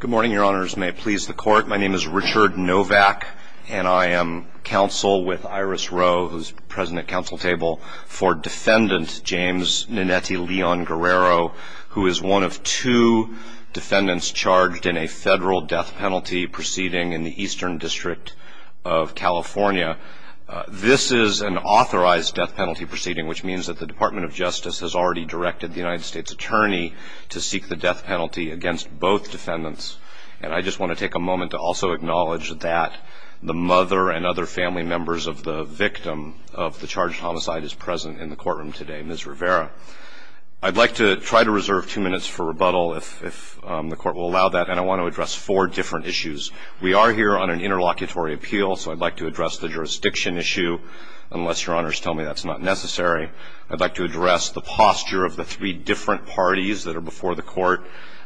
Good morning your honors may it please the court my name is Richard Novak and I am counsel with Iris Rowe who's present at council table for defendant James Nannetti Leon Guerrero who is one of two defendants charged in a federal death penalty proceeding in the Eastern District of California. This is an authorized death penalty proceeding which means that the Department of Justice has already directed the United States Attorney to seek the death penalty against both defendants and I just want to take a moment to also acknowledge that the mother and other family members of the victim of the charged homicide is present in the courtroom today Ms. Rivera. I'd like to try to reserve two minutes for rebuttal if the court will allow that and I want to address four different issues. We are here on an interlocutory appeal so I'd like to address the jurisdiction issue unless your honors tell me that's not necessary. I'd like to address the posture of the three different parties that are before the court.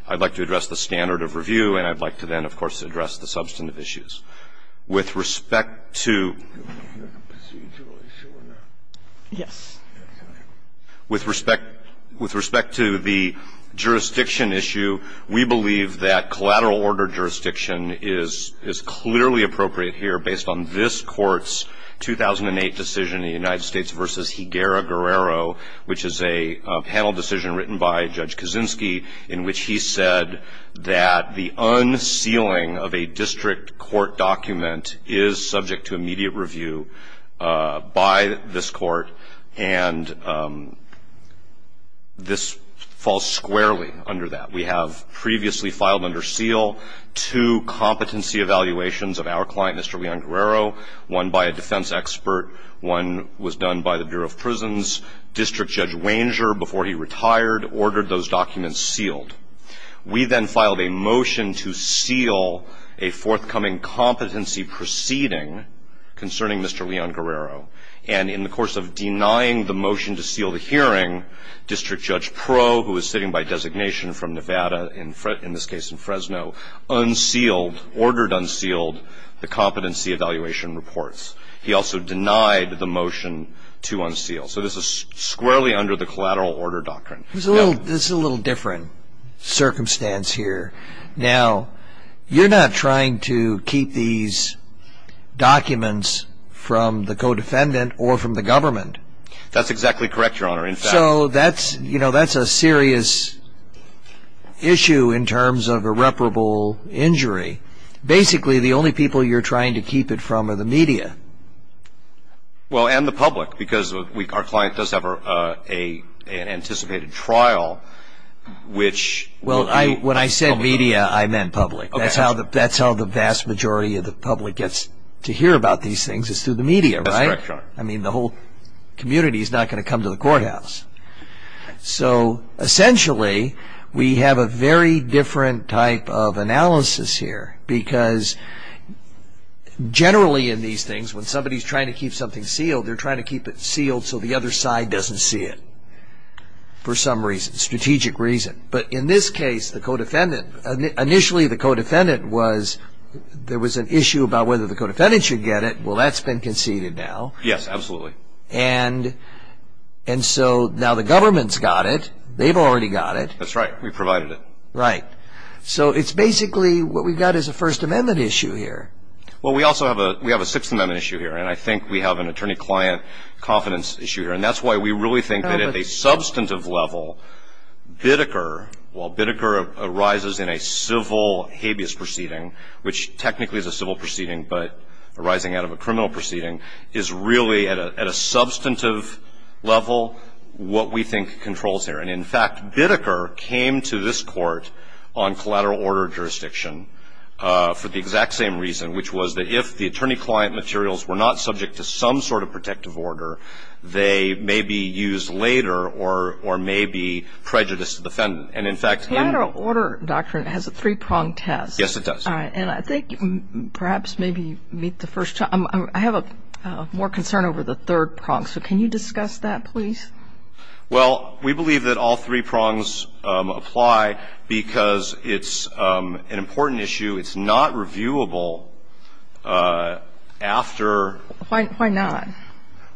I'd like to address the standard of review and I'd like to then of course address the substantive issues. With respect to Yes. With respect with respect to the jurisdiction issue we believe that collateral order jurisdiction is is clearly appropriate here based on this court's 2008 decision in the United States versus Higuera Guerrero which is a panel decision written by Judge Kaczynski in which he said that the unsealing of a district court document is subject to immediate review by this court and this falls squarely under that. We have previously filed under seal two competency evaluations of our client Mr. Leon Guerrero one by a defense expert one was retired ordered those documents sealed. We then filed a motion to seal a forthcoming competency proceeding concerning Mr. Leon Guerrero and in the course of denying the motion to seal the hearing District Judge Pro who is sitting by designation from Nevada in this case in Fresno unsealed ordered unsealed the competency evaluation reports. He also denied the motion to collateral order doctrine. This is a little different circumstance here. Now you're not trying to keep these documents from the co-defendant or from the government. That's exactly correct your honor. So that's you know that's a serious issue in terms of irreparable injury. Basically the only people you're trying to keep it from are the media. Well and the public because we our client does have a anticipated trial which. Well I when I said media I meant public. That's how the vast majority of the public gets to hear about these things is through the media right. I mean the whole community is not going to come to the courthouse. So essentially we have a very different type of analysis here because generally in these things when somebody's trying to keep something sealed they're trying to keep it sealed so the other side doesn't see it for some reason strategic reason. But in this case the co-defendant initially the co-defendant was there was an issue about whether the co-defendant should get it. Well that's been conceded now. Yes absolutely. And and so now the government's got it. They've already got it. That's right we provided it. Right so it's basically what we've got is a First Amendment issue here. Well we also have a Sixth Amendment issue here and I think we have an attorney-client confidence issue here and that's why we really think that at a substantive level Biddeker while Biddeker arises in a civil habeas proceeding which technically is a civil proceeding but arising out of a criminal proceeding is really at a substantive level what we think controls here. And in fact Biddeker came to this court on collateral order jurisdiction for the exact same reason which was that if the client materials were not subject to some sort of protective order they may be used later or or may be prejudiced defendant and in fact. Collateral order doctrine has a three-pronged test. Yes it does. And I think perhaps maybe meet the first time I have a more concern over the third prong so can you discuss that please? Well we believe that all three prongs apply because it's an important issue. It's not reviewable after. Why not?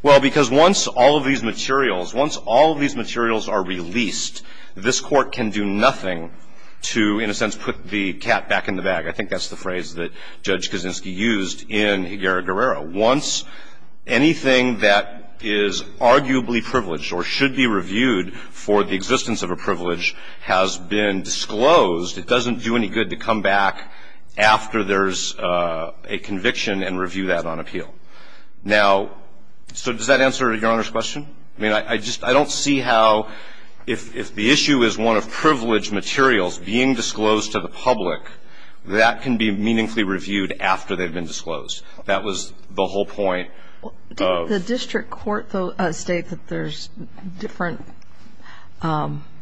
Well because once all of these materials once all of these materials are released this court can do nothing to in a sense put the cat back in the bag. I think that's the phrase that Judge Kaczynski used in Higuera-Guerrero. Once anything that is arguably privileged or should be reviewed for the existence of a privilege has been disclosed it doesn't do any good to come back after there's a conviction and review that on appeal. Now so does that answer your Honor's question? I mean I just I don't see how if if the issue is one of privileged materials being disclosed to the public that can be meaningfully reviewed after they've been disclosed. That was the whole point. Did the district court though state that there's different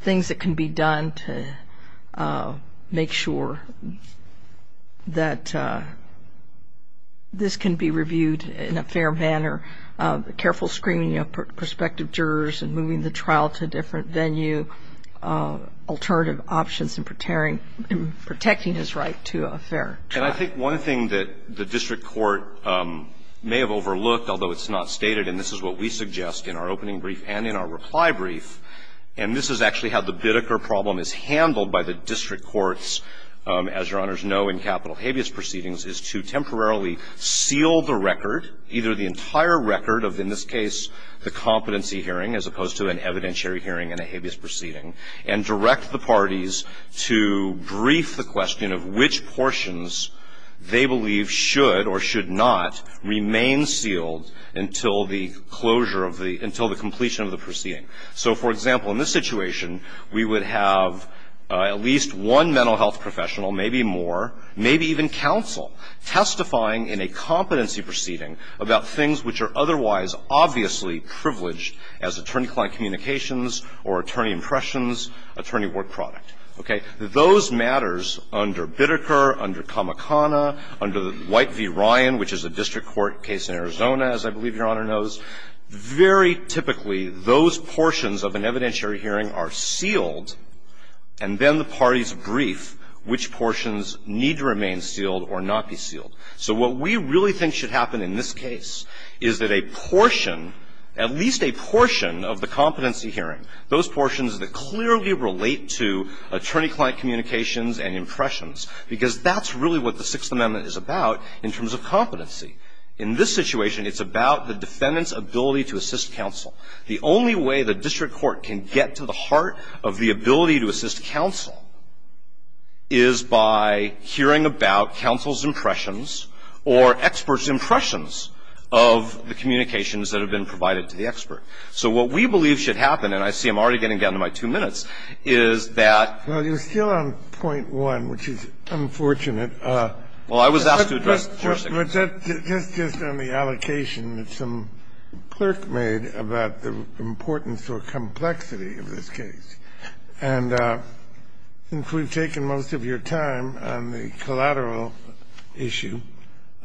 things that can be done to make sure that this can be reviewed in a fair manner? Careful screening of prospective jurors and moving the trial to a different venue. Alternative options in protecting his right to a fair trial. And I think one thing that the district courts as Your Honor's know in capital habeas proceedings is to temporarily seal the record, either the entire record of in this case the competency hearing as opposed to an evidentiary hearing in a habeas proceeding and direct the parties to brief the question of which portions they believe should or should not remain until the completion of the proceeding. So, for example, in this situation, we would have at least one mental health professional, maybe more, maybe even counsel, testifying in a competency proceeding about things which are otherwise obviously privileged as attorney-client communications or attorney impressions, attorney work product. Okay? Those matters under Bitteker, under Kamakana, under White v. Ryan, which is a district court case in Arizona, as I believe Your Honor knows, very typically those portions of an evidentiary hearing are sealed, and then the parties brief which portions need to remain sealed or not be sealed. So what we really think should happen in this case is that a portion, at least a portion of the competency hearing, those portions that clearly relate to attorney-client communications and impressions, because that's really what the Sixth Amendment is about in terms of competency. In this situation, it's about the defendant's ability to assist counsel. The only way the district court can get to the heart of the ability to assist counsel is by hearing about counsel's impressions or experts' impressions of the communications that have been provided to the expert. So what we believe should happen, and I see I'm already getting down to my two minutes, I was asked to address the jurisdiction. Kennedy. Just on the allocation that some clerk made about the importance or complexity of this case, and since we've taken most of your time on the collateral issue,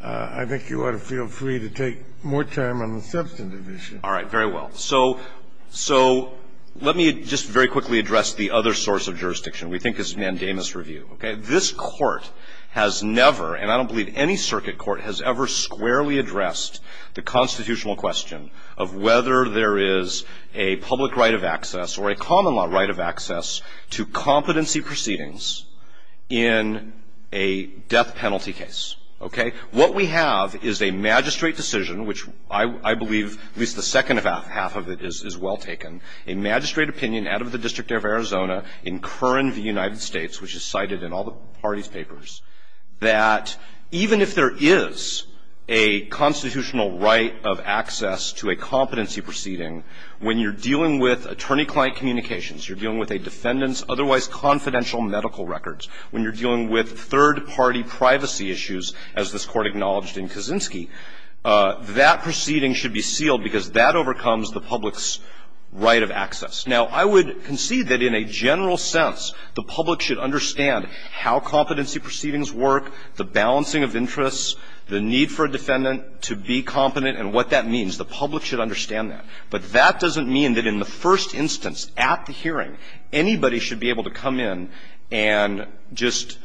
I think you ought to feel free to take more time on the substantive issue. All right. Very well. So let me just very quickly address the other source of jurisdiction. We think it's mandamus review. Okay? This Court has never, and I don't believe any circuit court, has ever squarely addressed the constitutional question of whether there is a public right of access or a common law right of access to competency proceedings in a death penalty case. Okay? What we have is a magistrate decision, which I believe at least the second half of it is well taken, a magistrate opinion out of the District of Arizona in Kern v. United States, which is cited in all the parties' papers, that even if there is a constitutional right of access to a competency proceeding, when you're dealing with attorney-client communications, you're dealing with a defendant's otherwise confidential medical records, when you're dealing with third-party privacy issues, as this Court acknowledged in Kaczynski, that proceeding should be sealed because that overcomes the public's right of access. Now, I would concede that in a general sense, the public should understand how competency proceedings work, the balancing of interests, the need for a defendant to be competent, and what that means. The public should understand that. But that doesn't mean that in the first instance at the hearing, anybody should be able to come in and just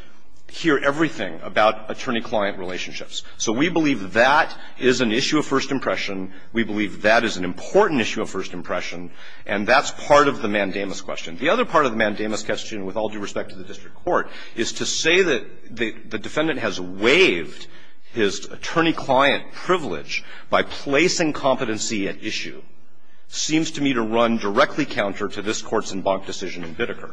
hear everything about attorney-client relationships. So we believe that is an issue of first impression. We believe that is an important issue of first impression. And that's part of the mandamus question. The other part of the mandamus question, with all due respect to the district court, is to say that the defendant has waived his attorney-client privilege by placing competency at issue seems to me to run directly counter to this Court's embanked decision in Biddeker,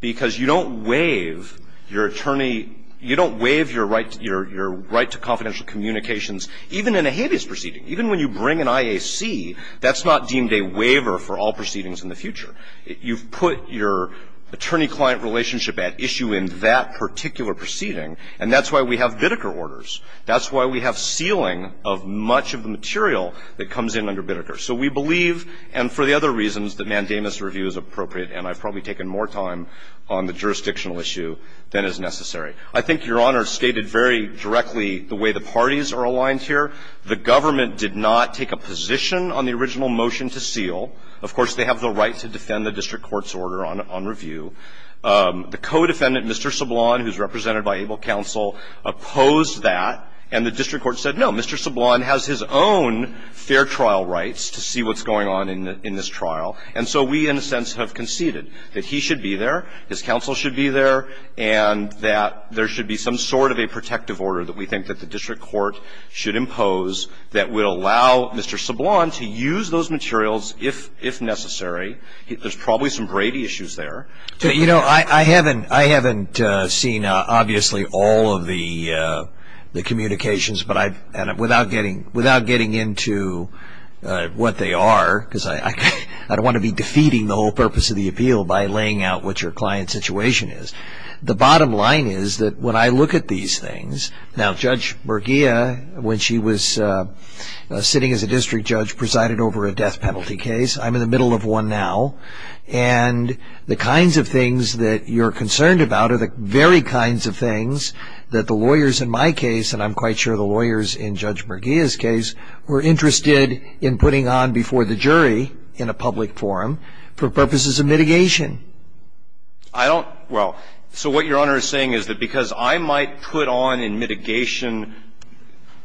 because you don't waive your attorney – you don't waive your right to confidential communications, even in a habeas proceeding. Even when you bring an IAC, that's not deemed a waiver for all proceedings in the future. You've put your attorney-client relationship at issue in that particular proceeding, and that's why we have Biddeker orders. That's why we have sealing of much of the material that comes in under Biddeker. So we believe, and for the other reasons, that mandamus review is appropriate, and I've probably taken more time on the jurisdictional issue than is necessary. I think Your Honor stated very directly the way the parties are aligned here. The government did not take a position on the original motion to seal. Of course, they have the right to defend the district court's order on review. The co-defendant, Mr. Sablon, who's represented by ABLE counsel, opposed that, and the district court said, no, Mr. Sablon has his own fair trial rights to see what's going on in this trial, and so we, in a sense, have conceded that he should be there, his counsel should be there, and that there should be some sort of a protective order that we think that the district court should impose that will allow Mr. Sablon to use those materials if necessary. There's probably some Brady issues there. But, you know, I haven't seen, obviously, all of the communications, but I've, without getting into what they are, because I don't want to be defeating the whole purpose of the appeal by laying out what your client's situation is. The bottom line is that when I look at these things, now, Judge Merguia, when she was sitting as a district judge, presided over a death penalty case. I'm in the middle of one now, and the kinds of things that you're concerned about are the very kinds of things that the lawyers in my case, and I'm quite sure the lawyers in Judge Merguia's case, were interested in putting on before the jury in a public forum for purposes of mitigation. I don't – well, so what Your Honor is saying is that because I might put on in mitigation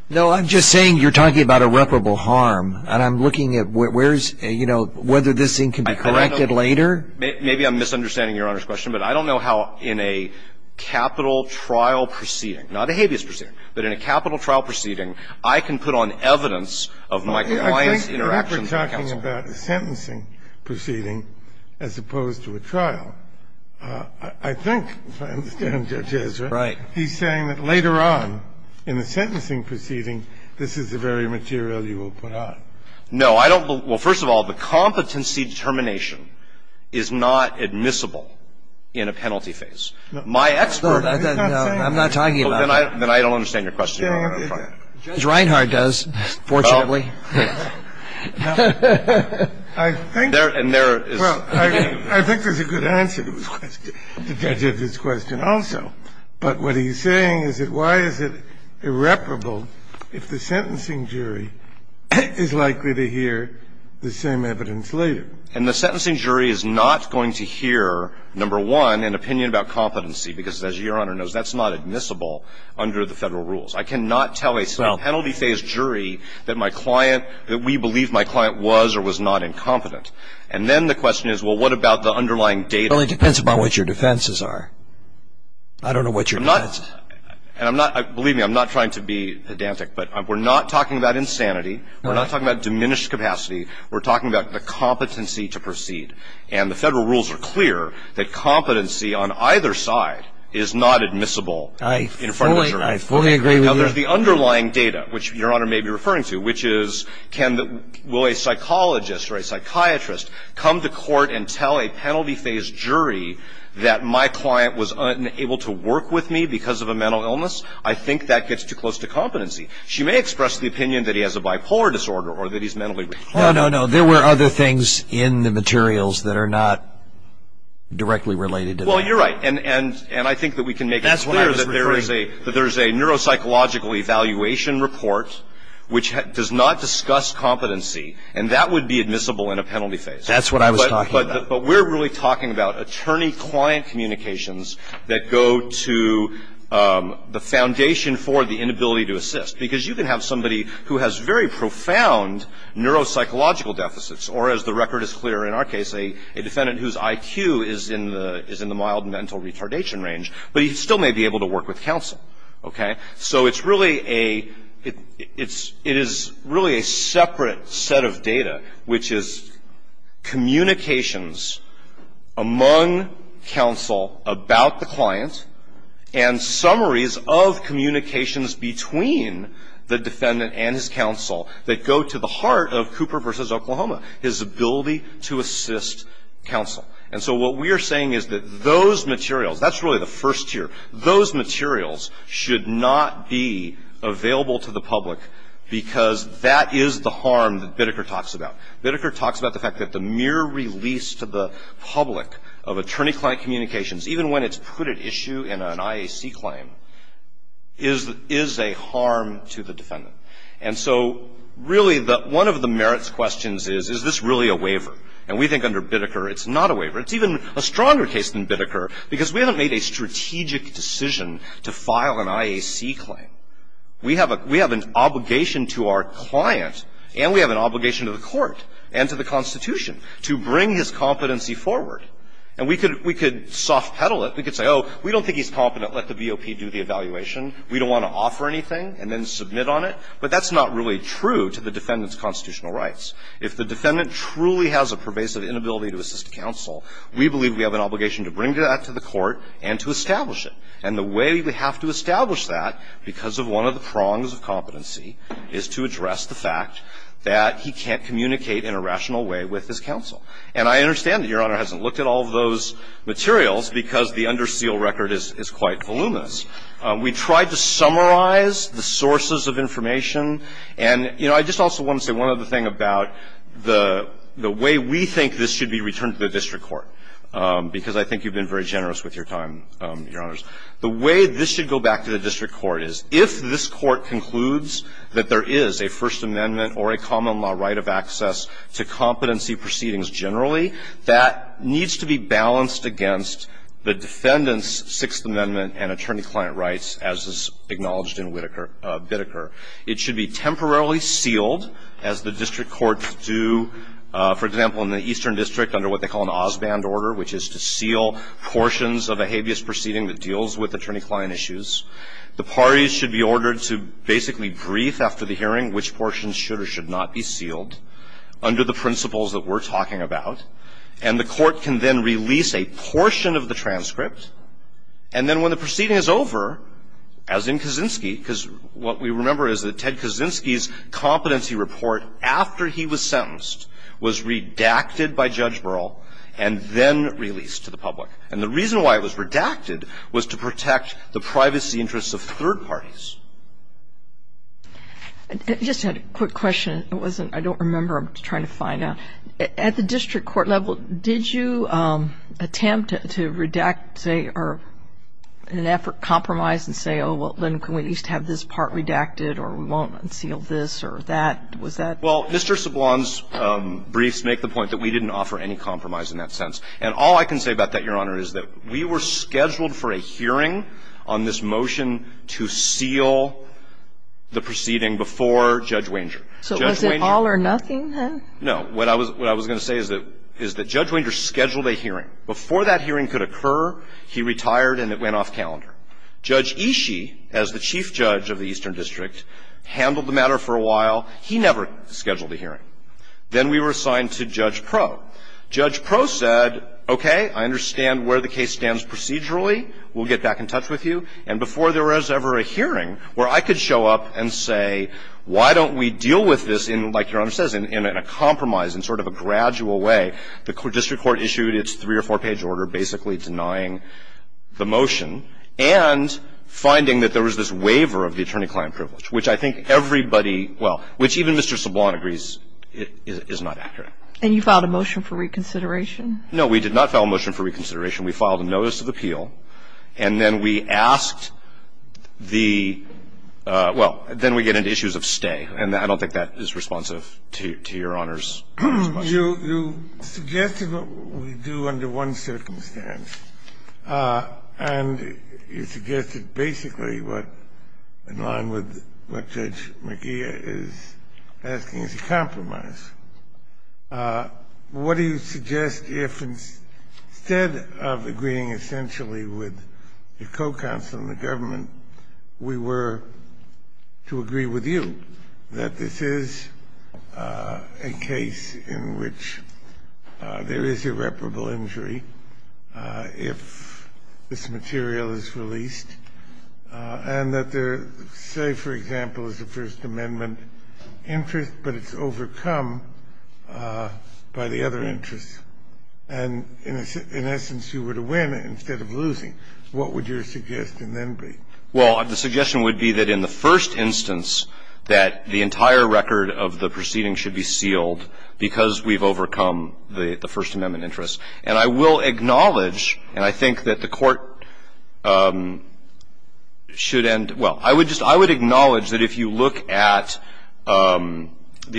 No, I'm just saying you're talking about irreparable harm, and I'm looking at where's, you know, whether this thing can be corrected later. Maybe I'm misunderstanding Your Honor's question, but I don't know how in a capital trial proceeding, not a habeas proceeding, but in a capital trial proceeding, I can put on evidence of my client's interaction with counsel. You're talking about a sentencing proceeding as opposed to a trial. I think, if I understand Judge Ezra, he's saying that later on in the sentencing proceeding, this is the very material you will put on. No, I don't – well, first of all, the competency determination is not admissible in a penalty phase. My expert is not saying that. No, I'm not talking about that. Then I don't understand your question, Your Honor. Judge Reinhardt does, fortunately. I think there's a good answer to his question, to Judge Ezra's question also. But what he's saying is that why is it irreparable if the sentencing jury is likely to hear the same evidence later? And the sentencing jury is not going to hear, number one, an opinion about competency, because as Your Honor knows, that's not admissible under the Federal rules. I cannot tell a penalty phase jury that my client – that we believe my client was or was not incompetent. And then the question is, well, what about the underlying data? Well, it depends upon what your defenses are. I don't know what your defense is. And I'm not – believe me, I'm not trying to be pedantic, but we're not talking about insanity. We're not talking about diminished capacity. We're talking about the competency to proceed. of the jury. I fully agree with you. Now, the underlying data, which Your Honor may be referring to, which is can – will a psychologist or a psychiatrist come to court and tell a penalty phase jury that my client was unable to work with me because of a mental illness? I think that gets too close to competency. She may express the opinion that he has a bipolar disorder or that he's mentally – No, no, no. There were other things in the materials that are not directly related to that. Well, you're right. And I think that we can make it clear that there is a – that there is a neuropsychological evaluation report which does not discuss competency, and that would be admissible in a penalty phase. That's what I was talking about. But we're really talking about attorney-client communications that go to the foundation for the inability to assist, because you can have somebody who has very profound neuropsychological deficits or, as the record is clear in our case, a defendant whose IQ is in the – is in the mild mental retardation range, but he still may be able to work with counsel, okay? So it's really a – it's – it is really a separate set of data, which is communications among counsel about the client and summaries of communications between the defendant and his counsel that go to the heart of Cooper v. Oklahoma, his ability to assist counsel. And so what we are saying is that those materials – that's really the first tier. Those materials should not be available to the public because that is the harm that Bitteker talks about. Bitteker talks about the fact that the mere release to the public of attorney-client communications, even when it's put at issue in an IAC claim, is a harm to the defendant. And so, really, the – one of the merits questions is, is this really a waiver? And we think under Bitteker it's not a waiver. It's even a stronger case than Bitteker, because we haven't made a strategic decision to file an IAC claim. We have a – we have an obligation to our client and we have an obligation to the court and to the Constitution to bring his competency forward. And we could – we could soft-pedal it. We could say, oh, we don't think he's competent. Let the BOP do the evaluation. We don't want to offer anything and then submit on it. But that's not really true to the defendant's constitutional rights. If the defendant truly has a pervasive inability to assist counsel, we believe we have an obligation to bring that to the court and to establish it. And the way we have to establish that, because of one of the prongs of competency, is to address the fact that he can't communicate in a rational way with his counsel. And I understand that Your Honor hasn't looked at all of those materials because the under seal record is quite voluminous. We tried to summarize the sources of information. And, you know, I just also want to say one other thing about the way we think this should be returned to the district court, because I think you've been very generous with your time, Your Honors. The way this should go back to the district court is if this court concludes that there is a First Amendment or a common law right of access to competency proceedings generally, that needs to be balanced against the defendant's Sixth Amendment and attorney-client rights, as is acknowledged in Whittaker – Whittaker, it should be temporarily sealed, as the district courts do, for example, in the Eastern District under what they call an Osband order, which is to seal portions of a habeas proceeding that deals with attorney-client issues. The parties should be ordered to basically brief after the hearing which portions should or should not be sealed under the principles that we're talking about. And the court can then release a portion of the transcript. And then when the proceeding is over, as in Kaczynski, because what we remember is that Ted Kaczynski's competency report, after he was sentenced, was redacted by Judge Burrell and then released to the public. And the reason why it was redacted was to protect the privacy interests of third parties. I just had a quick question. It wasn't – I don't remember. I'm trying to find out. At the district court level, did you attempt to redact, say, or in an effort, compromise and say, oh, well, then can we at least have this part redacted, or we won't unseal this, or that? Was that – Well, Mr. Sablon's briefs make the point that we didn't offer any compromise in that sense. And all I can say about that, Your Honor, is that we were scheduled for a hearing on this motion to seal the proceeding before Judge Wanger. So was it all or nothing, huh? No. What I was going to say is that Judge Wanger scheduled a hearing. Before that hearing could occur, he retired and it went off calendar. Judge Ishii, as the chief judge of the Eastern District, handled the matter for a while. He never scheduled a hearing. Then we were assigned to Judge Proe. Judge Proe said, okay, I understand where the case stands procedurally. We'll get back in touch with you. And before there was ever a hearing where I could show up and say, why don't we deal with this in, like Your Honor says, in a compromise, in sort of a gradual way, the district court issued its three or four-page order basically denying the motion and finding that there was this waiver of the attorney-client privilege, which I think everybody – well, which even Mr. Sablon agrees is not accurate. And you filed a motion for reconsideration? No, we did not file a motion for reconsideration. We filed a notice of appeal, and then we asked the – well, then we get into issues of stay. And I don't think that is responsive to Your Honor's question. You suggested what we do under one circumstance, and you suggested basically what, in line with what Judge McGeer is asking, is a compromise. What do you suggest if instead of agreeing essentially with your co-counsel and the district court that this is a case in which there is irreparable injury if this material is released, and that there, say, for example, is a First Amendment interest, but it's overcome by the other interests, and in essence you were to win instead of losing, what would your suggestion then be? Well, the suggestion would be that in the first instance that the entire record of the proceeding should be sealed because we've overcome the First Amendment interest. And I will acknowledge, and I think that the court should end – well, I would just – I would acknowledge that if you look at the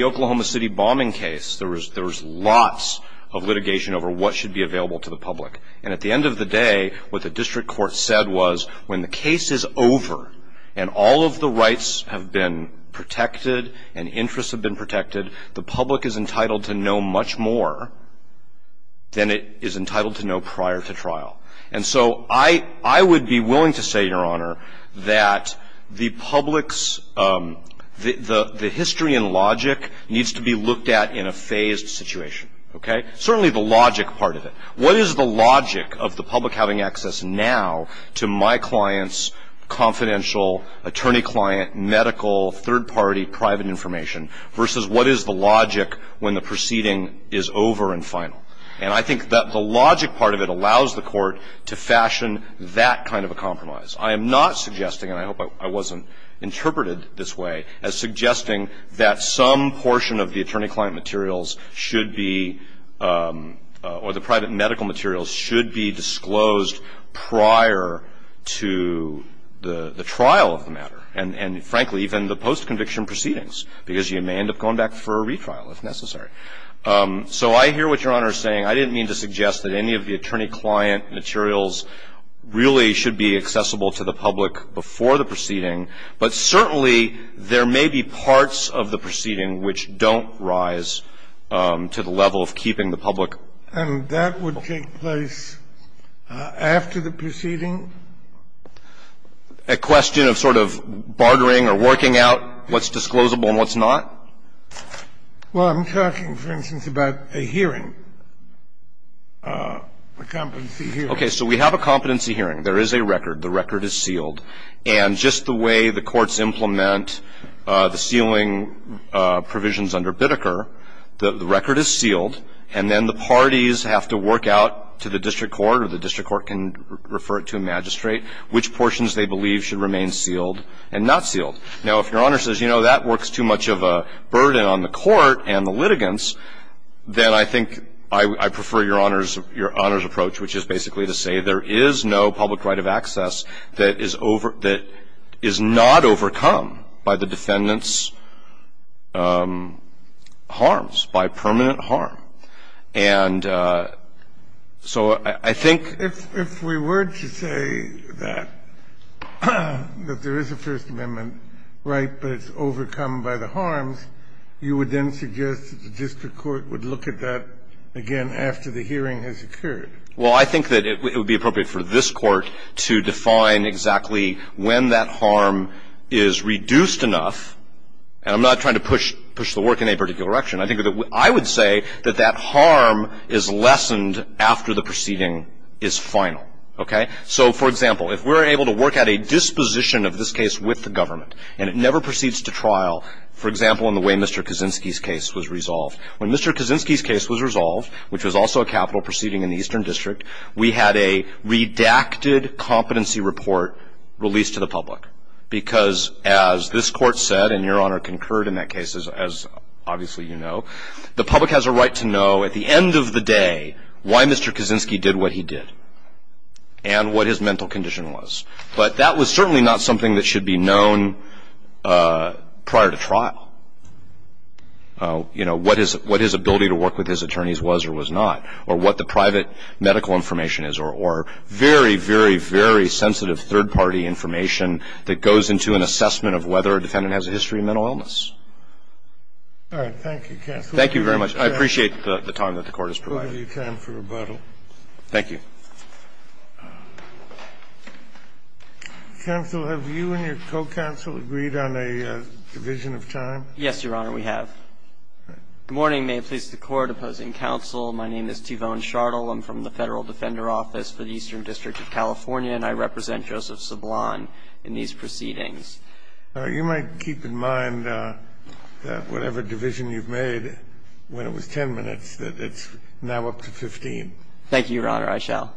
Oklahoma City bombing case, there was lots of litigation over what should be available to the public. And at the end of the day, what the district court said was when the case is over and all of the rights have been protected and interests have been protected, the public is entitled to know much more than it is entitled to know prior to trial. And so I would be willing to say, Your Honor, that the public's – the history and logic needs to be looked at in a phased situation, okay? Certainly the logic part of it. What is the logic of the public having access now to my client's confidential attorney client, medical, third-party, private information versus what is the logic when the proceeding is over and final? And I think that the logic part of it allows the court to fashion that kind of a compromise. I am not suggesting, and I hope I wasn't interpreted this way, as suggesting that some portion of the attorney client materials should be – or the private medical materials should be disclosed prior to the trial of the matter. And frankly, even the post-conviction proceedings, because you may end up going back for a retrial if necessary. So I hear what Your Honor is saying. I didn't mean to suggest that any of the attorney client materials really should be accessible to the public before the proceeding, but certainly there may be parts of the proceeding which don't rise to the level of keeping the public. And that would take place after the proceeding? A question of sort of bartering or working out what's disclosable and what's not? Well, I'm talking, for instance, about a hearing, a competency hearing. Okay. So we have a competency hearing. There is a record. The record is sealed. And just the way the courts implement the sealing provisions under Biddeker, the record is sealed, and then the parties have to work out to the district court or the district court can refer it to a magistrate, which portions they believe should remain sealed and not sealed. Now, if Your Honor says, you know, that works too much of a burden on the court and the litigants, then I think I prefer Your Honor's approach, which is basically to say there is no public right of access that is over – that is not overcome by the defendant's harms, by permanent harm. And so I think… If we were to say that there is a First Amendment right, but it's overcome by the harms, you would then suggest that the district court would look at that again after the hearing has occurred? Well, I think that it would be appropriate for this court to define exactly when that harm is reduced enough – and I'm not trying to push the work in any particular direction – I think that I would say that that harm is lessened after the proceeding is final. Okay? So, for example, if we're able to work out a disposition of this case with the government, and it never proceeds to trial, for example, in the way Mr. Kaczynski's case was resolved. When Mr. Kaczynski's case was resolved, which was also a capital proceeding in the Eastern District, we had a redacted competency report released to the public. Because as this court said, and Your Honor concurred in that case, as obviously you know, the public has a right to know at the end of the day why Mr. Kaczynski did what he did and what his mental condition was. But that was certainly not something that should be known prior to trial. You know, what his ability to work with his attorneys was or was not, or what the private medical information is, or very, very, very sensitive third-party information that goes into an assessment of whether a defendant has a history of mental illness. All right. Thank you, counsel. Thank you very much. I appreciate the time that the Court has provided. We'll give you time for rebuttal. Thank you. Counsel, have you and your co-counsel agreed on a division of time? Yes, Your Honor, we have. Good morning. May it please the Court. Opposing counsel. My name is Tyvone Chardell. I'm from the Federal Defender Office for the Eastern District of California, and I represent Joseph Sablon in these proceedings. You might keep in mind that whatever division you've made, when it was 10 minutes, that it's now up to 15. Thank you, Your Honor. I shall.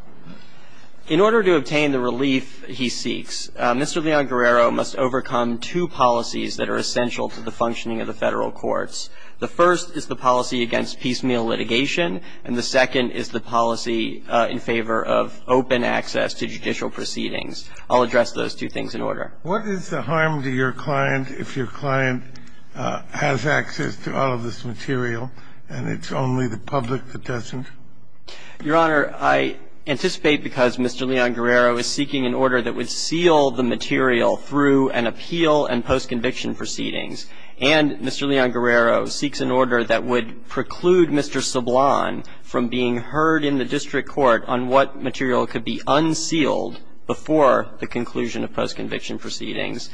In order to obtain the relief he seeks, Mr. Leon Guerrero must overcome two policies that are essential to the functioning of the Federal courts. The first is the policy against piecemeal litigation, and the second is the policy in favor of open access to judicial proceedings. I'll address those two things in order. What is the harm to your client if your client has access to all of this material and it's only the public that doesn't? Your Honor, I anticipate because Mr. Leon Guerrero is seeking an order that would seal the material through an appeal and post-conviction proceedings, and Mr. Leon Guerrero seeks an order that would preclude Mr. Sablon from being heard in the district court on what material could be unsealed before the conclusion of post-conviction proceedings,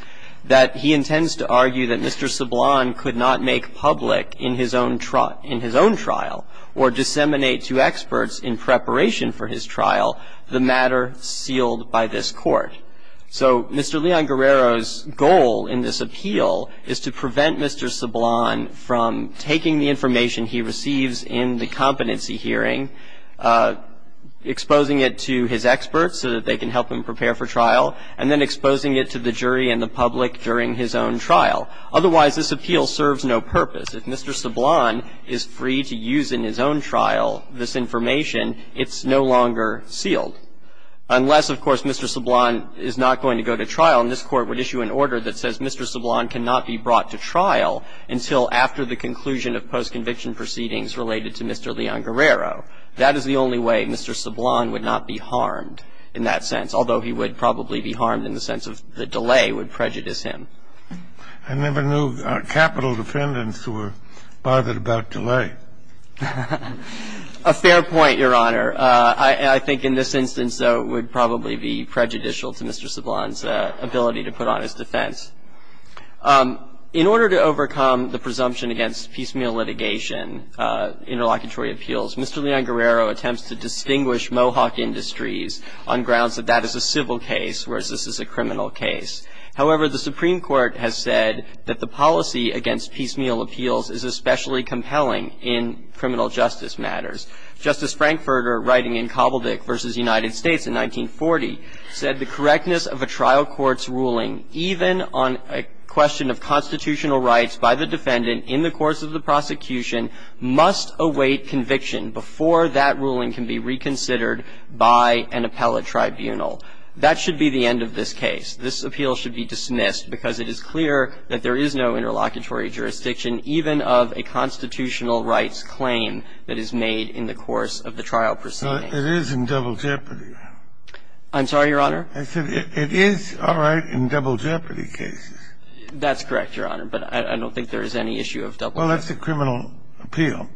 that he intends to argue that Mr. Sablon could not make public in his own trial or disseminate to experts in preparation for his trial the matter sealed by this Court. So Mr. Leon Guerrero's goal in this appeal is to prevent Mr. Sablon from being He's seeking to prevent Mr. Sablon from taking the information he receives in the competency hearing, exposing it to his experts so that they can help him prepare for trial, and then exposing it to the jury and the public during his own trial. Otherwise, this appeal serves no purpose. If Mr. Sablon is free to use in his own trial this information, it's no longer sealed, unless, of course, Mr. Sablon is not going to go to trial. And this Court would issue an order that says Mr. Sablon cannot be brought to trial until after the conclusion of post-conviction proceedings related to Mr. Leon Guerrero. That is the only way Mr. Sablon would not be harmed in that sense, although he would probably be harmed in the sense of the delay would prejudice him. I never knew capital defendants who were bothered about delay. A fair point, Your Honor. I think in this instance, though, it would probably be prejudicial to Mr. Sablon's ability to put on his defense. In order to overcome the presumption against piecemeal litigation, interlocutory appeals, Mr. Leon Guerrero attempts to distinguish Mohawk Industries on grounds that that is a civil case, whereas this is a criminal case. However, the Supreme Court has said that the policy against piecemeal appeals is especially compelling in criminal justice matters. Justice Frankfurter, writing in Cobbledick v. United States in 1940, said the correctness of a trial court's ruling, even on a question of constitutional rights by the defendant in the course of the prosecution, must await conviction before that ruling can be reconsidered by an appellate tribunal. That should be the end of this case. This appeal should be dismissed because it is clear that there is no interlocutory jurisdiction, even of a constitutional rights claim that is made in the course of the trial proceeding. It is in double jeopardy. I'm sorry, Your Honor? I said it is all right in double jeopardy cases. That's correct, Your Honor, but I don't think there is any issue of double jeopardy. Well, that's a criminal appeal.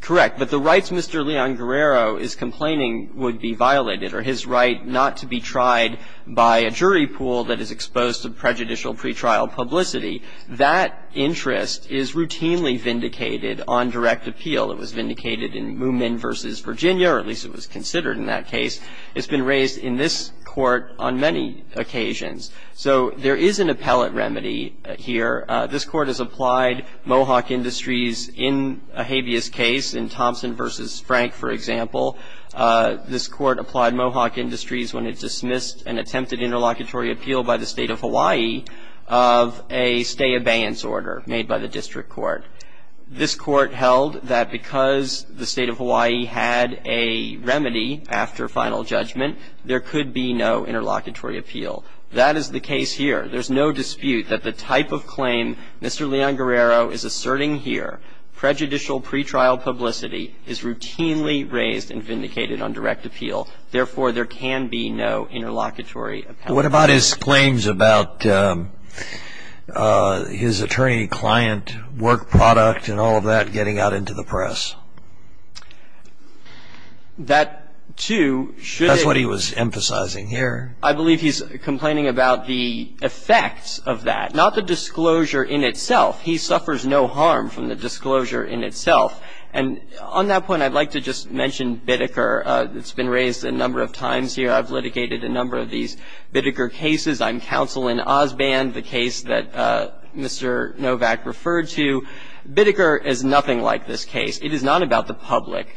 Correct. But the rights Mr. Leon Guerrero is complaining would be violated, or his right not to be tried by a jury pool that is exposed to prejudicial pretrial publicity. That interest is routinely vindicated on direct appeal. It was vindicated in Moomin v. Virginia, or at least it was considered in that case. It's been raised in this Court on many occasions. So there is an appellate remedy here. This Court has applied Mohawk Industries in a habeas case, in Thompson v. Frank, for example. This Court applied Mohawk Industries when it dismissed an attempted interlocutory appeal by the State of Hawaii of a stay-abeyance order made by the District Court. This Court held that because the State of Hawaii had a remedy after final judgment, there could be no interlocutory appeal. That is the case here. There is no dispute that the type of claim Mr. Leon Guerrero is asserting here, prejudicial pretrial publicity, is routinely raised and vindicated on direct appeal. Therefore, there can be no interlocutory appellate. What about his claims about his attorney-client work product and all of that getting out into the press? That, too, should- That's what he was emphasizing here. I believe he's complaining about the effects of that, not the disclosure in itself. He suffers no harm from the disclosure in itself. And on that point, I'd like to just mention Bitteker. It's been raised a number of times here. I've litigated a number of these Bitteker cases. I'm counsel in Osband, the case that Mr. Novak referred to. Bitteker is nothing like this case. It is not about the public.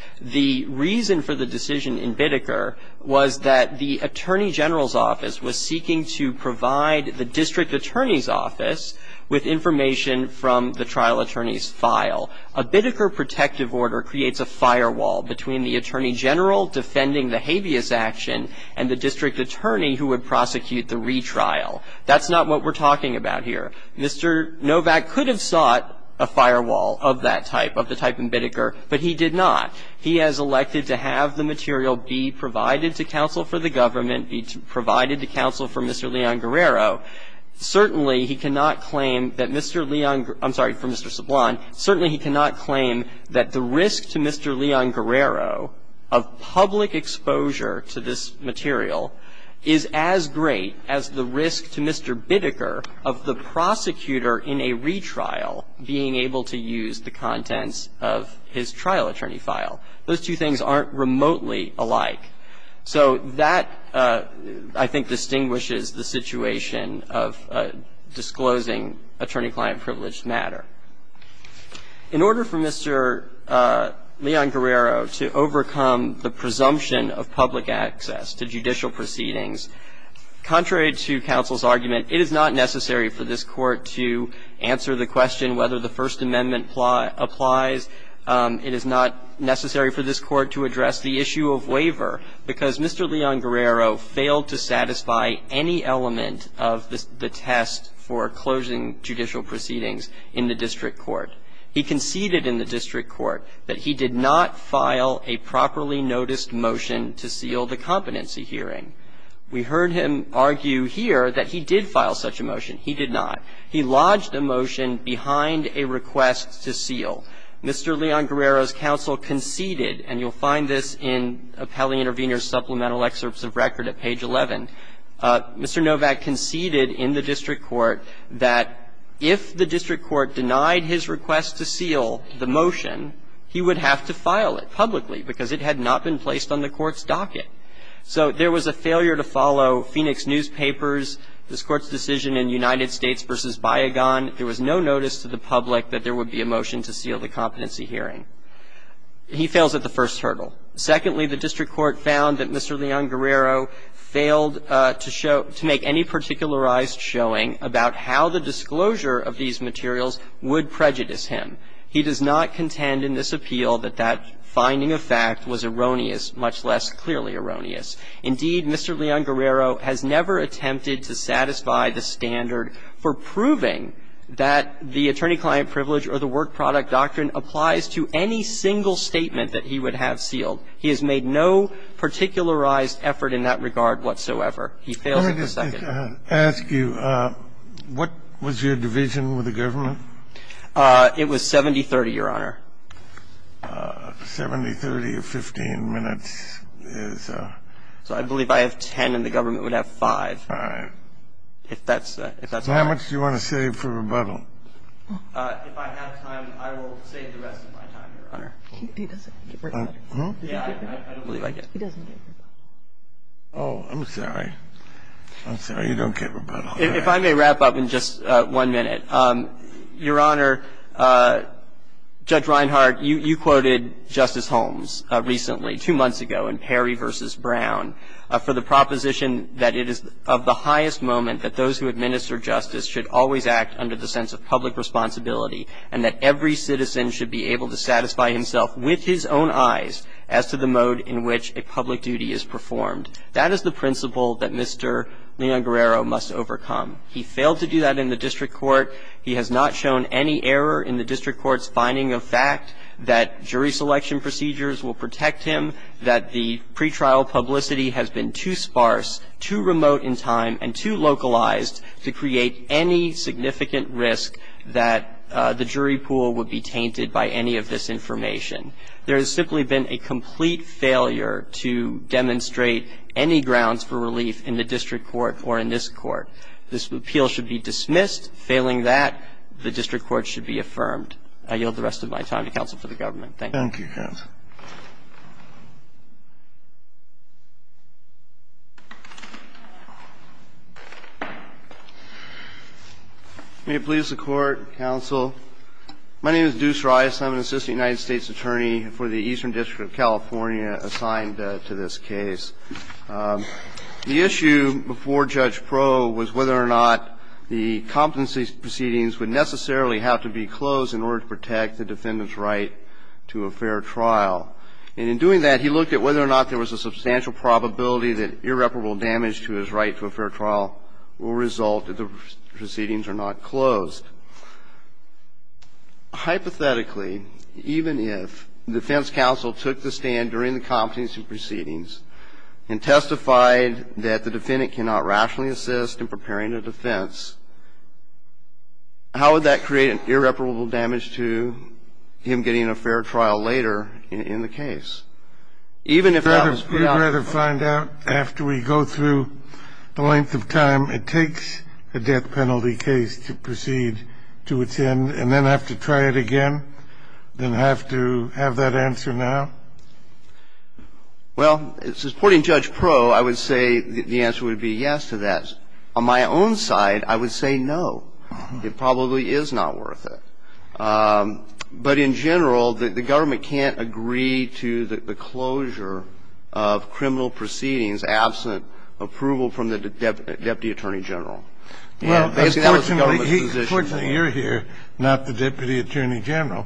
was seeking to provide the district attorney's office with information from the trial attorney's file. A Bitteker protective order creates a firewall between the attorney general defending the habeas action and the district attorney who would prosecute the retrial. That's not what we're talking about here. Mr. Novak could have sought a firewall of that type, of the type in Bitteker, but he did not. He has elected to have the material be provided to counsel for the government, be provided to counsel for Mr. Leon Guerrero. Certainly, he cannot claim that Mr. Leon, I'm sorry, for Mr. Sublon, certainly he cannot claim that the risk to Mr. Leon Guerrero of public exposure to this material is as great as the risk to Mr. Bitteker of the prosecutor in a retrial being able to use the contents of his trial attorney file. Those two things aren't remotely alike. So that, I think, distinguishes the situation of disclosing attorney-client privileged matter. In order for Mr. Leon Guerrero to overcome the presumption of public access to judicial proceedings, contrary to counsel's argument, it is not necessary for this court to answer the question whether the First Amendment applies. It is not necessary for this court to address the issue of waiver because Mr. Leon Guerrero failed to satisfy any element of the test for closing judicial proceedings in the district court. He conceded in the district court that he did not file a properly noticed motion to seal the competency hearing. We heard him argue here that he did file such a motion. He did not. He lodged a motion behind a request to seal. Mr. Leon Guerrero's counsel conceded, and you'll find this in Appellee Intervenors' Supplemental Excerpts of Record at page 11, Mr. Novak conceded in the district court that if the district court denied his request to seal the motion, he would have to file it publicly because it had not been placed on the court's docket. So there was a failure to follow Phoenix newspapers, this Court's decision in United States v. Biagon, there was no notice to the public that there would be a motion to seal the competency hearing. He fails at the first hurdle. Secondly, the district court found that Mr. Leon Guerrero failed to show to make any particularized showing about how the disclosure of these materials would prejudice him. He does not contend in this appeal that that finding of fact was erroneous, much less clearly erroneous. Indeed, Mr. Leon Guerrero has never attempted to satisfy the standard for proving that the attorney-client privilege or the work-product doctrine applies to any single statement that he would have sealed. He has made no particularized effort in that regard whatsoever. He fails at the second. Kennedy, I have to ask you, what was your division with the government? It was 70-30, Your Honor. 70-30 of 15 minutes is a 10-minute. So I believe I have 10 and the government would have 5. All right. If that's all right. So how much do you want to save for rebuttal? If I have time, I will save the rest of my time, Your Honor. He doesn't get rebuttal. Huh? Yeah, I don't believe I get rebuttal. He doesn't get rebuttal. Oh, I'm sorry. I'm sorry. You don't get rebuttal. If I may wrap up in just one minute, Your Honor, Judge Reinhart, you quoted Justice Holmes recently, two months ago, in Perry v. Brown, for the proposition that it is of the highest moment that those who administer justice should always act under the sense of public responsibility, and that every citizen should be able to satisfy himself with his own eyes as to the mode in which a public duty is performed. That is the principle that Mr. Leon Guerrero must overcome. He failed to do that in the district court. He has not shown any error in the district court's finding of fact that jury selection procedures will protect him, that the pretrial publicity has been too sparse, too remote in time, and too localized to create any significant risk that the jury pool would be tainted by any of this information. There has simply been a complete failure to demonstrate any grounds for relief in the district court or in this Court. This appeal should be dismissed. Failing that, the district court should be affirmed. I yield the rest of my time to counsel for the government. Thank you. Thank you, counsel. May it please the Court, counsel. My name is Deuce Rice. I'm an assistant United States attorney for the Eastern District of California assigned to this case. The issue before Judge Proe was whether or not the competency proceedings would necessarily have to be closed in order to protect the defendant's right to a fair trial. And in doing that, he looked at whether or not there was a substantial probability that irreparable damage to his right to a fair trial will result if the proceedings are not closed. Hypothetically, even if the defense counsel took the stand during the competency proceedings and testified that the defendant cannot rationally assist in preparing a defense, how would that create an irreparable damage to him getting a fair trial later in the case? Even if that was preempted. Would you rather find out after we go through the length of time it takes a death penalty case to proceed to its end and then have to try it again, then have to have that answer now? Well, supporting Judge Proe, I would say the answer would be yes to that. On my own side, I would say no. It probably is not worth it. But in general, the government can't agree to the closure of criminal proceedings absent approval from the Deputy Attorney General. Well, fortunately, you're here, not the Deputy Attorney General.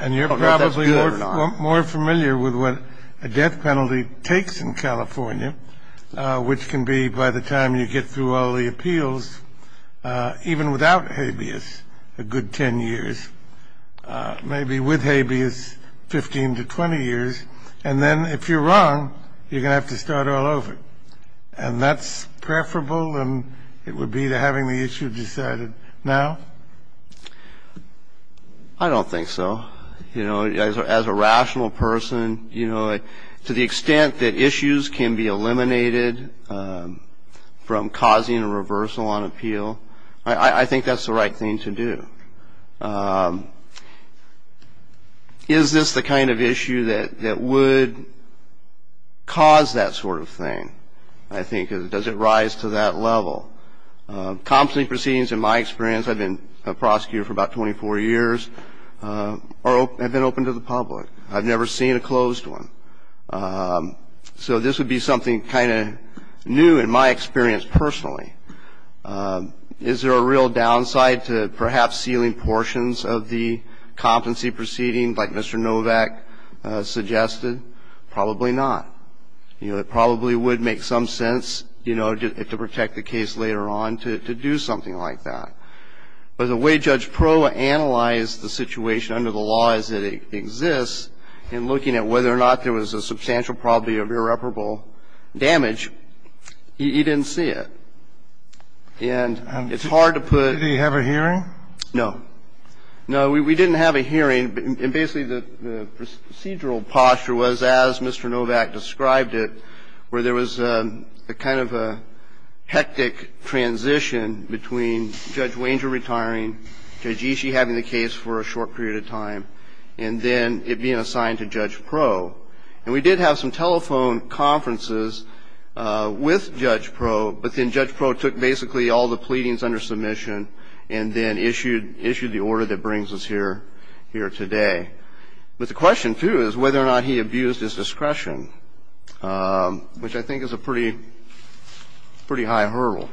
And you're probably more familiar with what a death penalty takes in California, which can be by the time you get through all the appeals, even without habeas, a good 10 years, maybe with habeas 15 to 20 years. And then if you're wrong, you're going to have to start all over. And that's preferable than it would be to having the issue decided now? I don't think so. You know, as a rational person, you know, to the extent that issues can be eliminated from causing a reversal on appeal, I think that's the right thing to do. Is this the kind of issue that would cause that sort of thing? I think, does it rise to that level? Competent proceedings, in my experience, I've been a prosecutor for about 24 years, have been open to the public. I've never seen a closed one. So this would be something kind of new in my experience personally. Is there a real downside to perhaps sealing portions of the competency proceeding like Mr. Novak suggested? Probably not. You know, it probably would make some sense, you know, to protect the case later on to do something like that. But the way Judge Proh analyzed the situation under the law as it exists, in looking at whether or not there was a substantial probability of irreparable damage, he didn't see it. And it's hard to put the... Did he have a hearing? No. No, we didn't have a hearing. And basically, the procedural posture was, as Mr. Novak described it, where there was a kind of a hectic transition between Judge Wanger retiring, Judge Ishii having the case for a short period of time, and then it being assigned to Judge Proh. And we did have some telephone conferences with Judge Proh, but then Judge Proh took basically all the pleadings under submission and then issued the order that brings us here today. But the question, too, is whether or not he abused his discretion, which I think is a pretty high hurdle,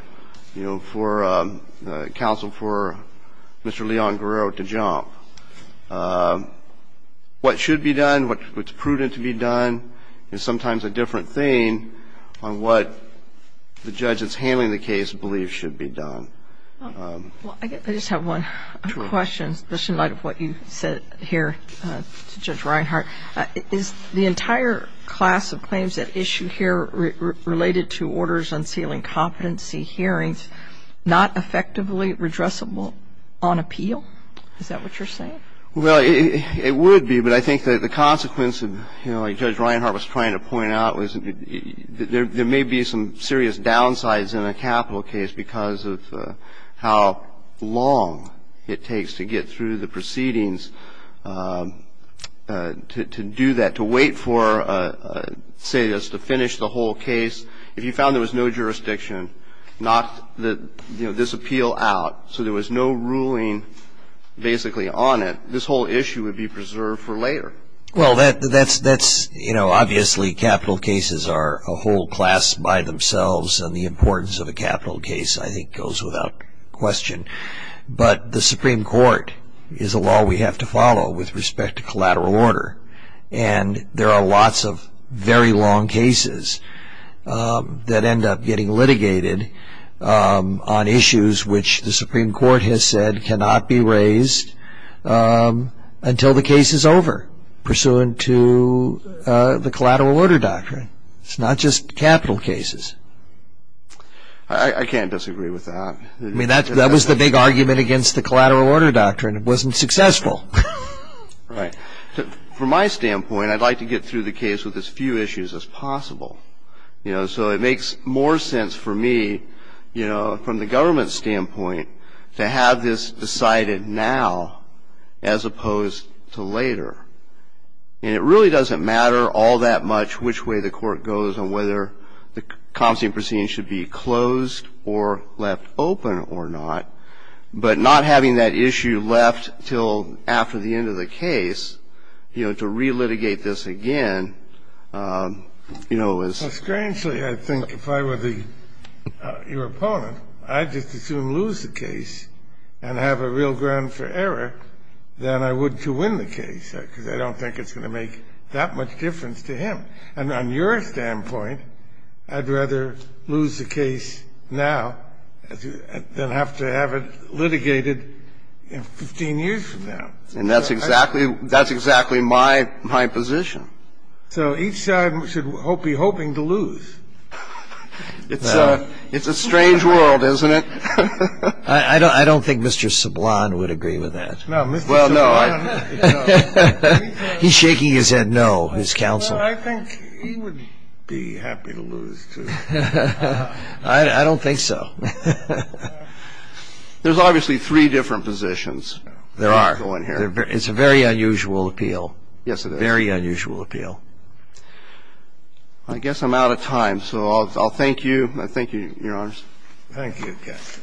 you know, for the counsel for Mr. Leon Guerrero to jump. What should be done, what's prudent to be done, is sometimes a different thing on what the judge that's handling the case believes should be done. Well, I guess I just have one question, just in light of what you said here to Judge Reinhart. Is the entire class of claims at issue here related to orders unsealing competency hearings not effectively redressable on appeal? Is that what you're saying? Well, it would be, but I think that the consequence of, you know, like Judge Reinhart was trying to point out was there may be some serious downsides in a capital case because of how long it takes to get through the proceedings to do that, to wait for, say, just to finish the whole case. If you found there was no jurisdiction, not this appeal out, so there was no ruling basically on it, this whole issue would be preserved for later. Well, that's, you know, obviously capital cases are a whole class by themselves, and the importance of a capital case, I think, goes without question. But the Supreme Court is a law we have to follow with respect to collateral order. And there are lots of very long cases that end up getting litigated on issues which the Supreme Court has said cannot be raised until the case is over, pursuant to the collateral order doctrine. It's not just capital cases. I can't disagree with that. I mean, that was the big argument against the collateral order doctrine. It wasn't successful. Right. From my standpoint, I'd like to get through the case with as few issues as possible. You know, so it makes more sense for me, you know, from the government's standpoint, to have this decided now as opposed to later. And it really doesn't matter all that much which way the court goes on whether the constant proceedings should be closed or left open or not. But not having that issue left till after the end of the case, you know, to re-litigate this again, you know, is. Well, strangely, I think if I were your opponent, I'd just as soon lose the case and have a real ground for error than I would to win the case, because I don't think it's going to make that much difference to him. And on your standpoint, I'd rather lose the case now than have to have it litigated 15 years from now. And that's exactly my position. So each side should be hoping to lose. It's a strange world, isn't it? I don't think Mr. Sublon would agree with that. No, Mr. Sublon. I don't think he would. He's shaking his head no, his counsel. But I think he would be happy to lose, too. I don't think so. There's obviously three different positions. There are. It's a very unusual appeal. Yes, it is. Very unusual appeal. I guess I'm out of time, so I'll thank you. I thank you, Your Honors. Thank you, Judge.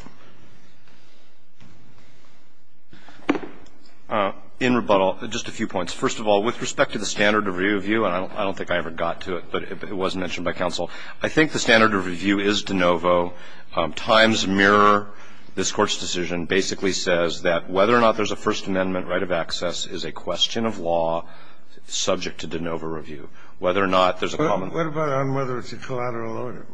In rebuttal, just a few points. First of all, with respect to the standard of review, and I don't think I ever got to it, but it was mentioned by counsel. I think the standard of review is de novo. Times, Mirror, this Court's decision basically says that whether or not there's a First Amendment right of access is a question of law subject to de novo review. Whether or not there's a common. What about on whether it's a collateral order?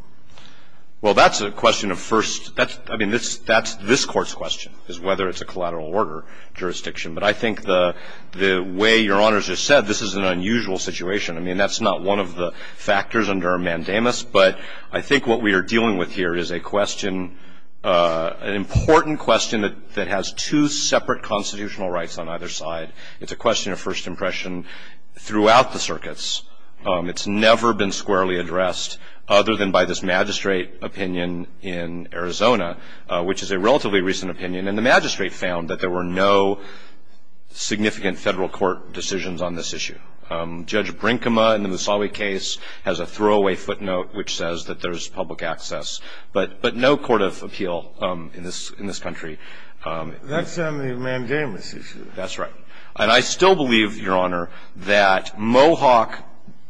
Well, that's a question of first, I mean, that's this Court's question, is whether it's a collateral order jurisdiction. But I think the way Your Honors just said, this is an unusual situation. I mean, that's not one of the factors under mandamus, but I think what we are dealing with here is a question, an important question that has two separate constitutional rights on either side. It's a question of first impression throughout the circuits. It's never been squarely addressed other than by this magistrate opinion in Arizona, which is a relatively recent opinion. And the magistrate found that there were no significant federal court decisions on this issue. Judge Brinkema in the Musawi case has a throwaway footnote which says that there's public access, but no court of appeal in this country. That's on the mandamus issue. That's right. And I still believe, Your Honor, that Mohawk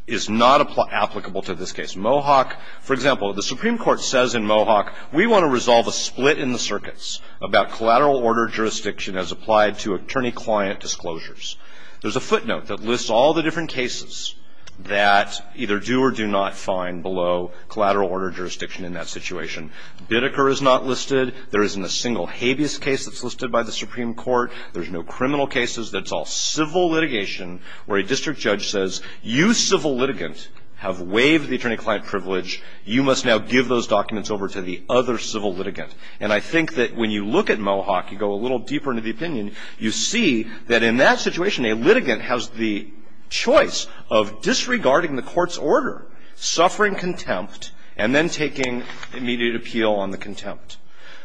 is not applicable to this case. Mohawk, for example, the Supreme Court says in Mohawk, we want to resolve a split in the circuits about collateral order jurisdiction as applied to attorney-client disclosures. There's a footnote that lists all the different cases that either do or do not find below collateral order jurisdiction in that situation. Biddeker is not listed. There isn't a single habeas case that's listed by the Supreme Court. There's no criminal cases. That's all civil litigation where a district judge says, you civil litigant have waived the attorney-client privilege. You must now give those documents over to the other civil litigant. And I think that when you look at Mohawk, you go a little deeper into the opinion, you see that in that situation, a litigant has the choice of disregarding the court's order, suffering contempt, and then taking immediate appeal on the contempt.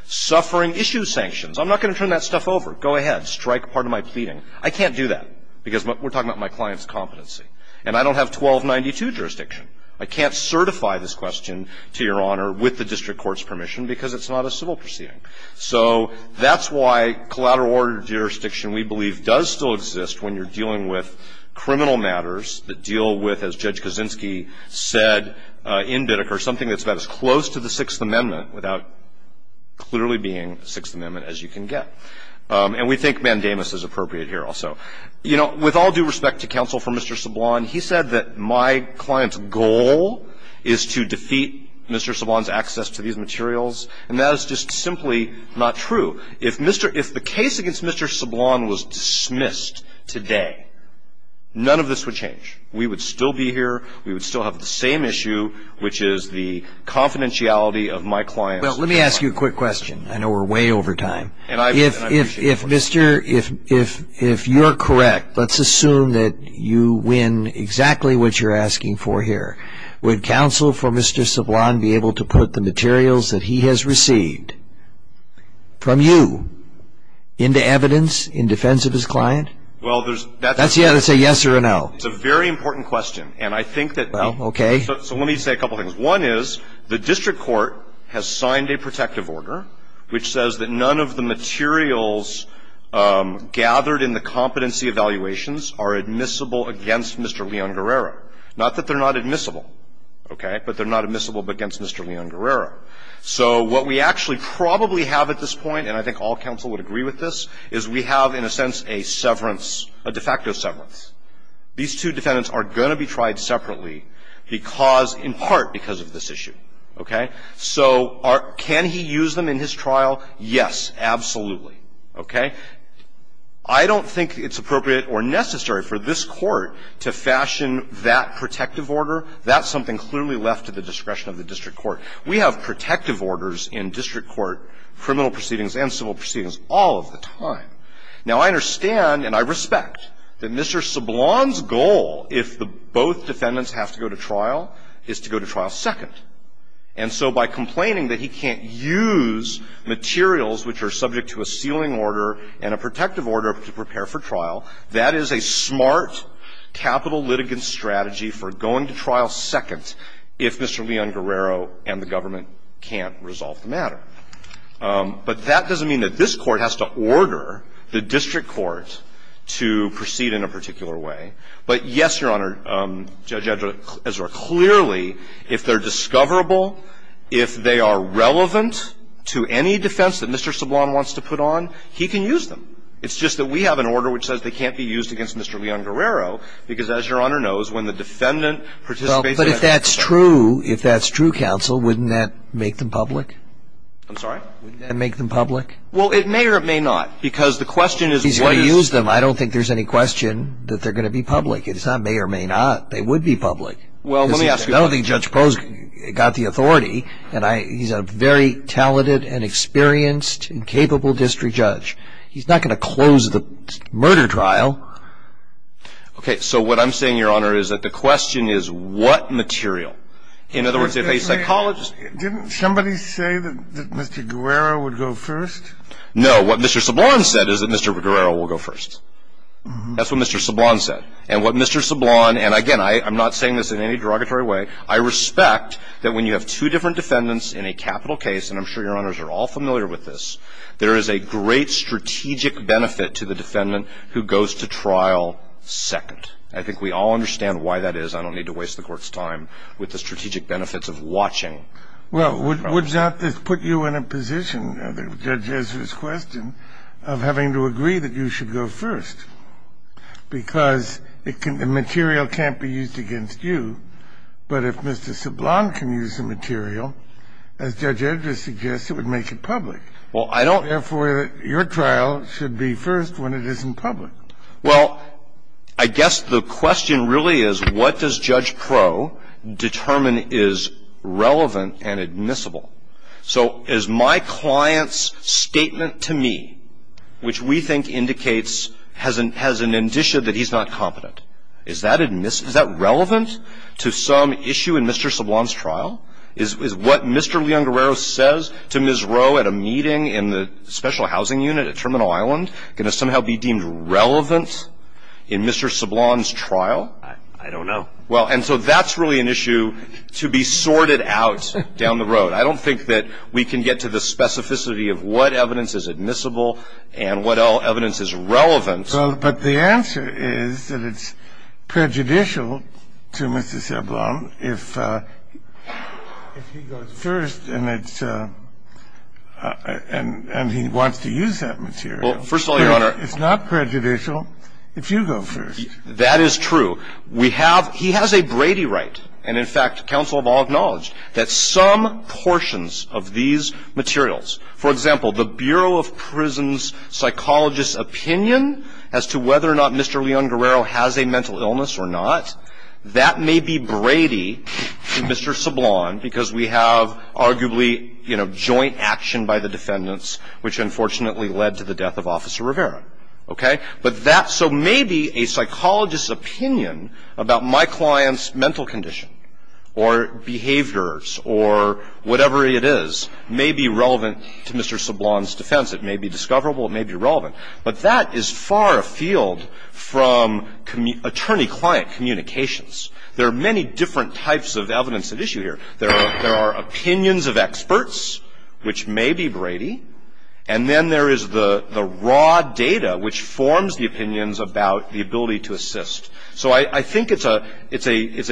Suffering issue sanctions. I'm not going to turn that stuff over. Go ahead. Strike part of my pleading. I can't do that because we're talking about my client's competency. And I don't have 1292 jurisdiction. I can't certify this question to Your Honor with the district court's permission because it's not a civil proceeding. So that's why collateral order jurisdiction, we believe, does still exist when you're dealing with criminal matters that deal with, as Judge Kaczynski said in Biddeker, something that's about as close to the Sixth Amendment without clearly being the Sixth Amendment as you can get. And we think mandamus is appropriate here also. You know, with all due respect to counsel for Mr. Sablon, he said that my client's goal is to defeat Mr. Sablon's access to these materials, and that is just simply not true. If the case against Mr. Sablon was dismissed today, none of this would change. We would still be here, we would still have the same issue, which is the confidentiality of my client's- Well, let me ask you a quick question. I know we're way over time. And I appreciate- If you're correct, let's assume that you win exactly what you're asking for here. Would counsel for Mr. Sablon be able to put the materials that he has received from you into evidence in defense of his client? Well, there's- That's a yes or a no. It's a very important question. And I think that- Well, okay. So let me say a couple things. One is, the district court has signed a protective order which says that none of the materials gathered in the competency evaluations are admissible against Mr. Leon Guerrero. Not that they're not admissible, okay? But they're not admissible against Mr. Leon Guerrero. So what we actually probably have at this point, and I think all counsel would agree with this, is we have in a sense a severance, a de facto severance. These two defendants are going to be tried separately because, in part, because of this issue, okay? So can he use them in his trial? Yes, absolutely, okay? I don't think it's appropriate or necessary for this court to fashion that protective order. That's something clearly left to the discretion of the district court. We have protective orders in district court, criminal proceedings and civil proceedings, all of the time. Now, I understand and I respect that Mr. Sablon's goal, if both defendants have to go to trial, is to go to trial second. And so by complaining that he can't use materials which are subject to a sealing order and a protective order to prepare for trial, that is a smart capital litigant strategy for going to trial second if Mr. Leon Guerrero and the government can't resolve the matter. But that doesn't mean that this court has to order the district court to proceed in a particular way. But yes, Your Honor, Judge Ezra, clearly, if they're discoverable, if they are relevant to any defense that Mr. Sablon wants to put on, he can use them. It's just that we have an order which says they can't be used against Mr. Leon Guerrero because, as Your Honor knows, when the defendant participates- But if that's true, if that's true, counsel, wouldn't that make them public? I'm sorry? Wouldn't that make them public? Well, it may or it may not, because the question is- He's going to use them. I don't think there's any question that they're going to be public. It's not may or may not. They would be public. Well, let me ask you- I don't think Judge Posk got the authority. And he's a very talented and experienced and capable district judge. He's not going to close the murder trial. Okay, so what I'm saying, Your Honor, is that the question is what material? In other words, if a psychologist- Didn't somebody say that Mr. Guerrero would go first? No, what Mr. Sablon said is that Mr. Guerrero will go first. That's what Mr. Sablon said. And what Mr. Sablon, and again, I'm not saying this in any derogatory way, I respect that when you have two different defendants in a capital case, and I'm sure Your Honors are all familiar with this, there is a great strategic benefit to the defendant who goes to trial second. I think we all understand why that is. I don't need to waste the court's time with the strategic benefits of watching. Well, would that put you in a position, Judge Ezra's question, of having to agree that you should go first, because the material can't be used against you, but if Mr. Sablon can use the material, as Judge Ezra suggests, it would make it public. Well, I don't- Therefore, your trial should be first when it isn't public. Well, I guess the question really is, what does Judge Proe determine is relevant and admissible? So is my client's statement to me, which we think indicates, has an indicia that he's not competent. Is that relevant to some issue in Mr. Sablon's trial? Is what Mr. Leon Guerrero says to Ms. Roe at a meeting in the special housing unit at Terminal Island going to somehow be deemed relevant in Mr. Sablon's trial? I don't know. Well, and so that's really an issue to be sorted out down the road. I don't think that we can get to the specificity of what evidence is admissible and what evidence is relevant. Well, but the answer is that it's prejudicial to Mr. Sablon if he goes first and it's – and he wants to use that material. Well, first of all, Your Honor- It's not prejudicial if you go first. That is true. We have – he has a Brady right. And in fact, counsel have all acknowledged that some portions of these materials, for example, the Bureau of Prisons psychologist's opinion as to whether or not Mr. Leon Guerrero has a mental illness or not, that may be Brady to Mr. Sablon because we have arguably joint action by the defendants, which unfortunately led to the death of Officer Rivera, okay? But that – so maybe a psychologist's opinion about my client's mental condition or behaviors or whatever it is may be relevant to Mr. Sablon's defense. It may be discoverable. It may be relevant. But that is far afield from attorney-client communications. There are many different types of evidence at issue here. There are opinions of experts, which may be Brady. And then there is the raw data, which forms the opinions about the ability to assist. So I think it's a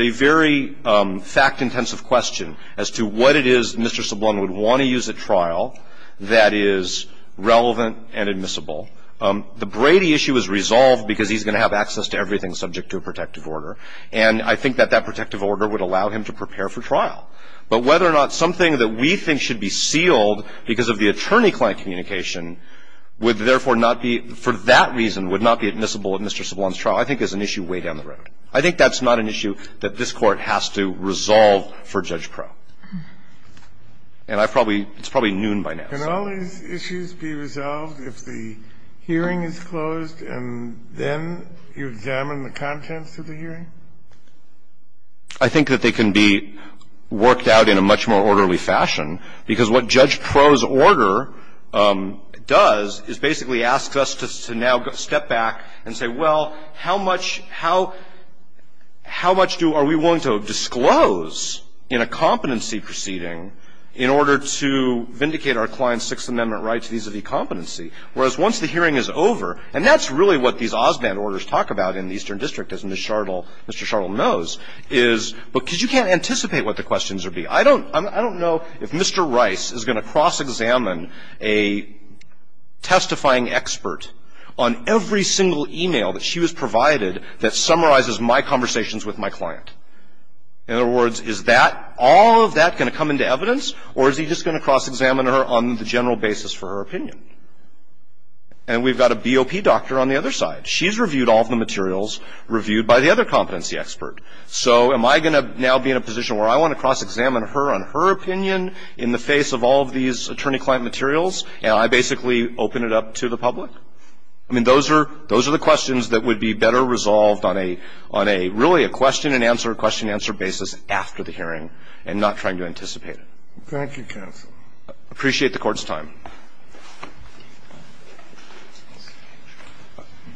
very fact-intensive question as to what it is Mr. Sablon would want to use at trial that is relevant and admissible. The Brady issue is resolved because he's going to have access to everything subject to a protective order. And I think that that protective order would allow him to prepare for trial. But whether or not something that we think should be sealed because of the attorney-client communication would therefore not be – for that reason would not be admissible at Mr. Sablon's trial, I think is an issue way down the road. I think that's not an issue that this Court has to resolve for Judge Proulx. And I've probably – it's probably noon by now. Can all these issues be resolved if the hearing is closed and then you examine the contents of the hearing? I think that they can be worked out in a much more orderly fashion because what Judge Proulx's order does is basically asks us to now step back and say, well, how much – how much do – are we willing to disclose in a competency proceeding in order to vindicate our client's Sixth Amendment rights vis-à-vis competency? Whereas once the hearing is over – and that's really what these Osband orders talk about in the Eastern District, as Ms. Chardell – Mr. Chardell knows, is – because you can't anticipate what the questions will be. I don't – I don't know if Mr. Rice is going to cross-examine a testifying expert on every single e-mail that she was provided that summarizes my conversations with my client. In other words, is that – all of that going to come into evidence, or is he just going to cross-examine her on the general basis for her opinion? And we've got a BOP doctor on the other side. She's reviewed all of the materials reviewed by the other competency expert. So am I going to now be in a position where I want to cross-examine her on her opinion in the face of all of these attorney-client materials, and I basically open it up to the public? I mean, those are – those are the questions that would be better resolved on a – on a – really a question-and-answer, question-answer basis after the hearing and not trying to anticipate it. Thank you, counsel. Appreciate the Court's time.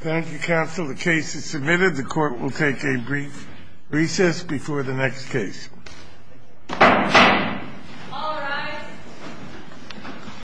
Thank you, counsel. The case is submitted. The Court will take a brief recess before the next case.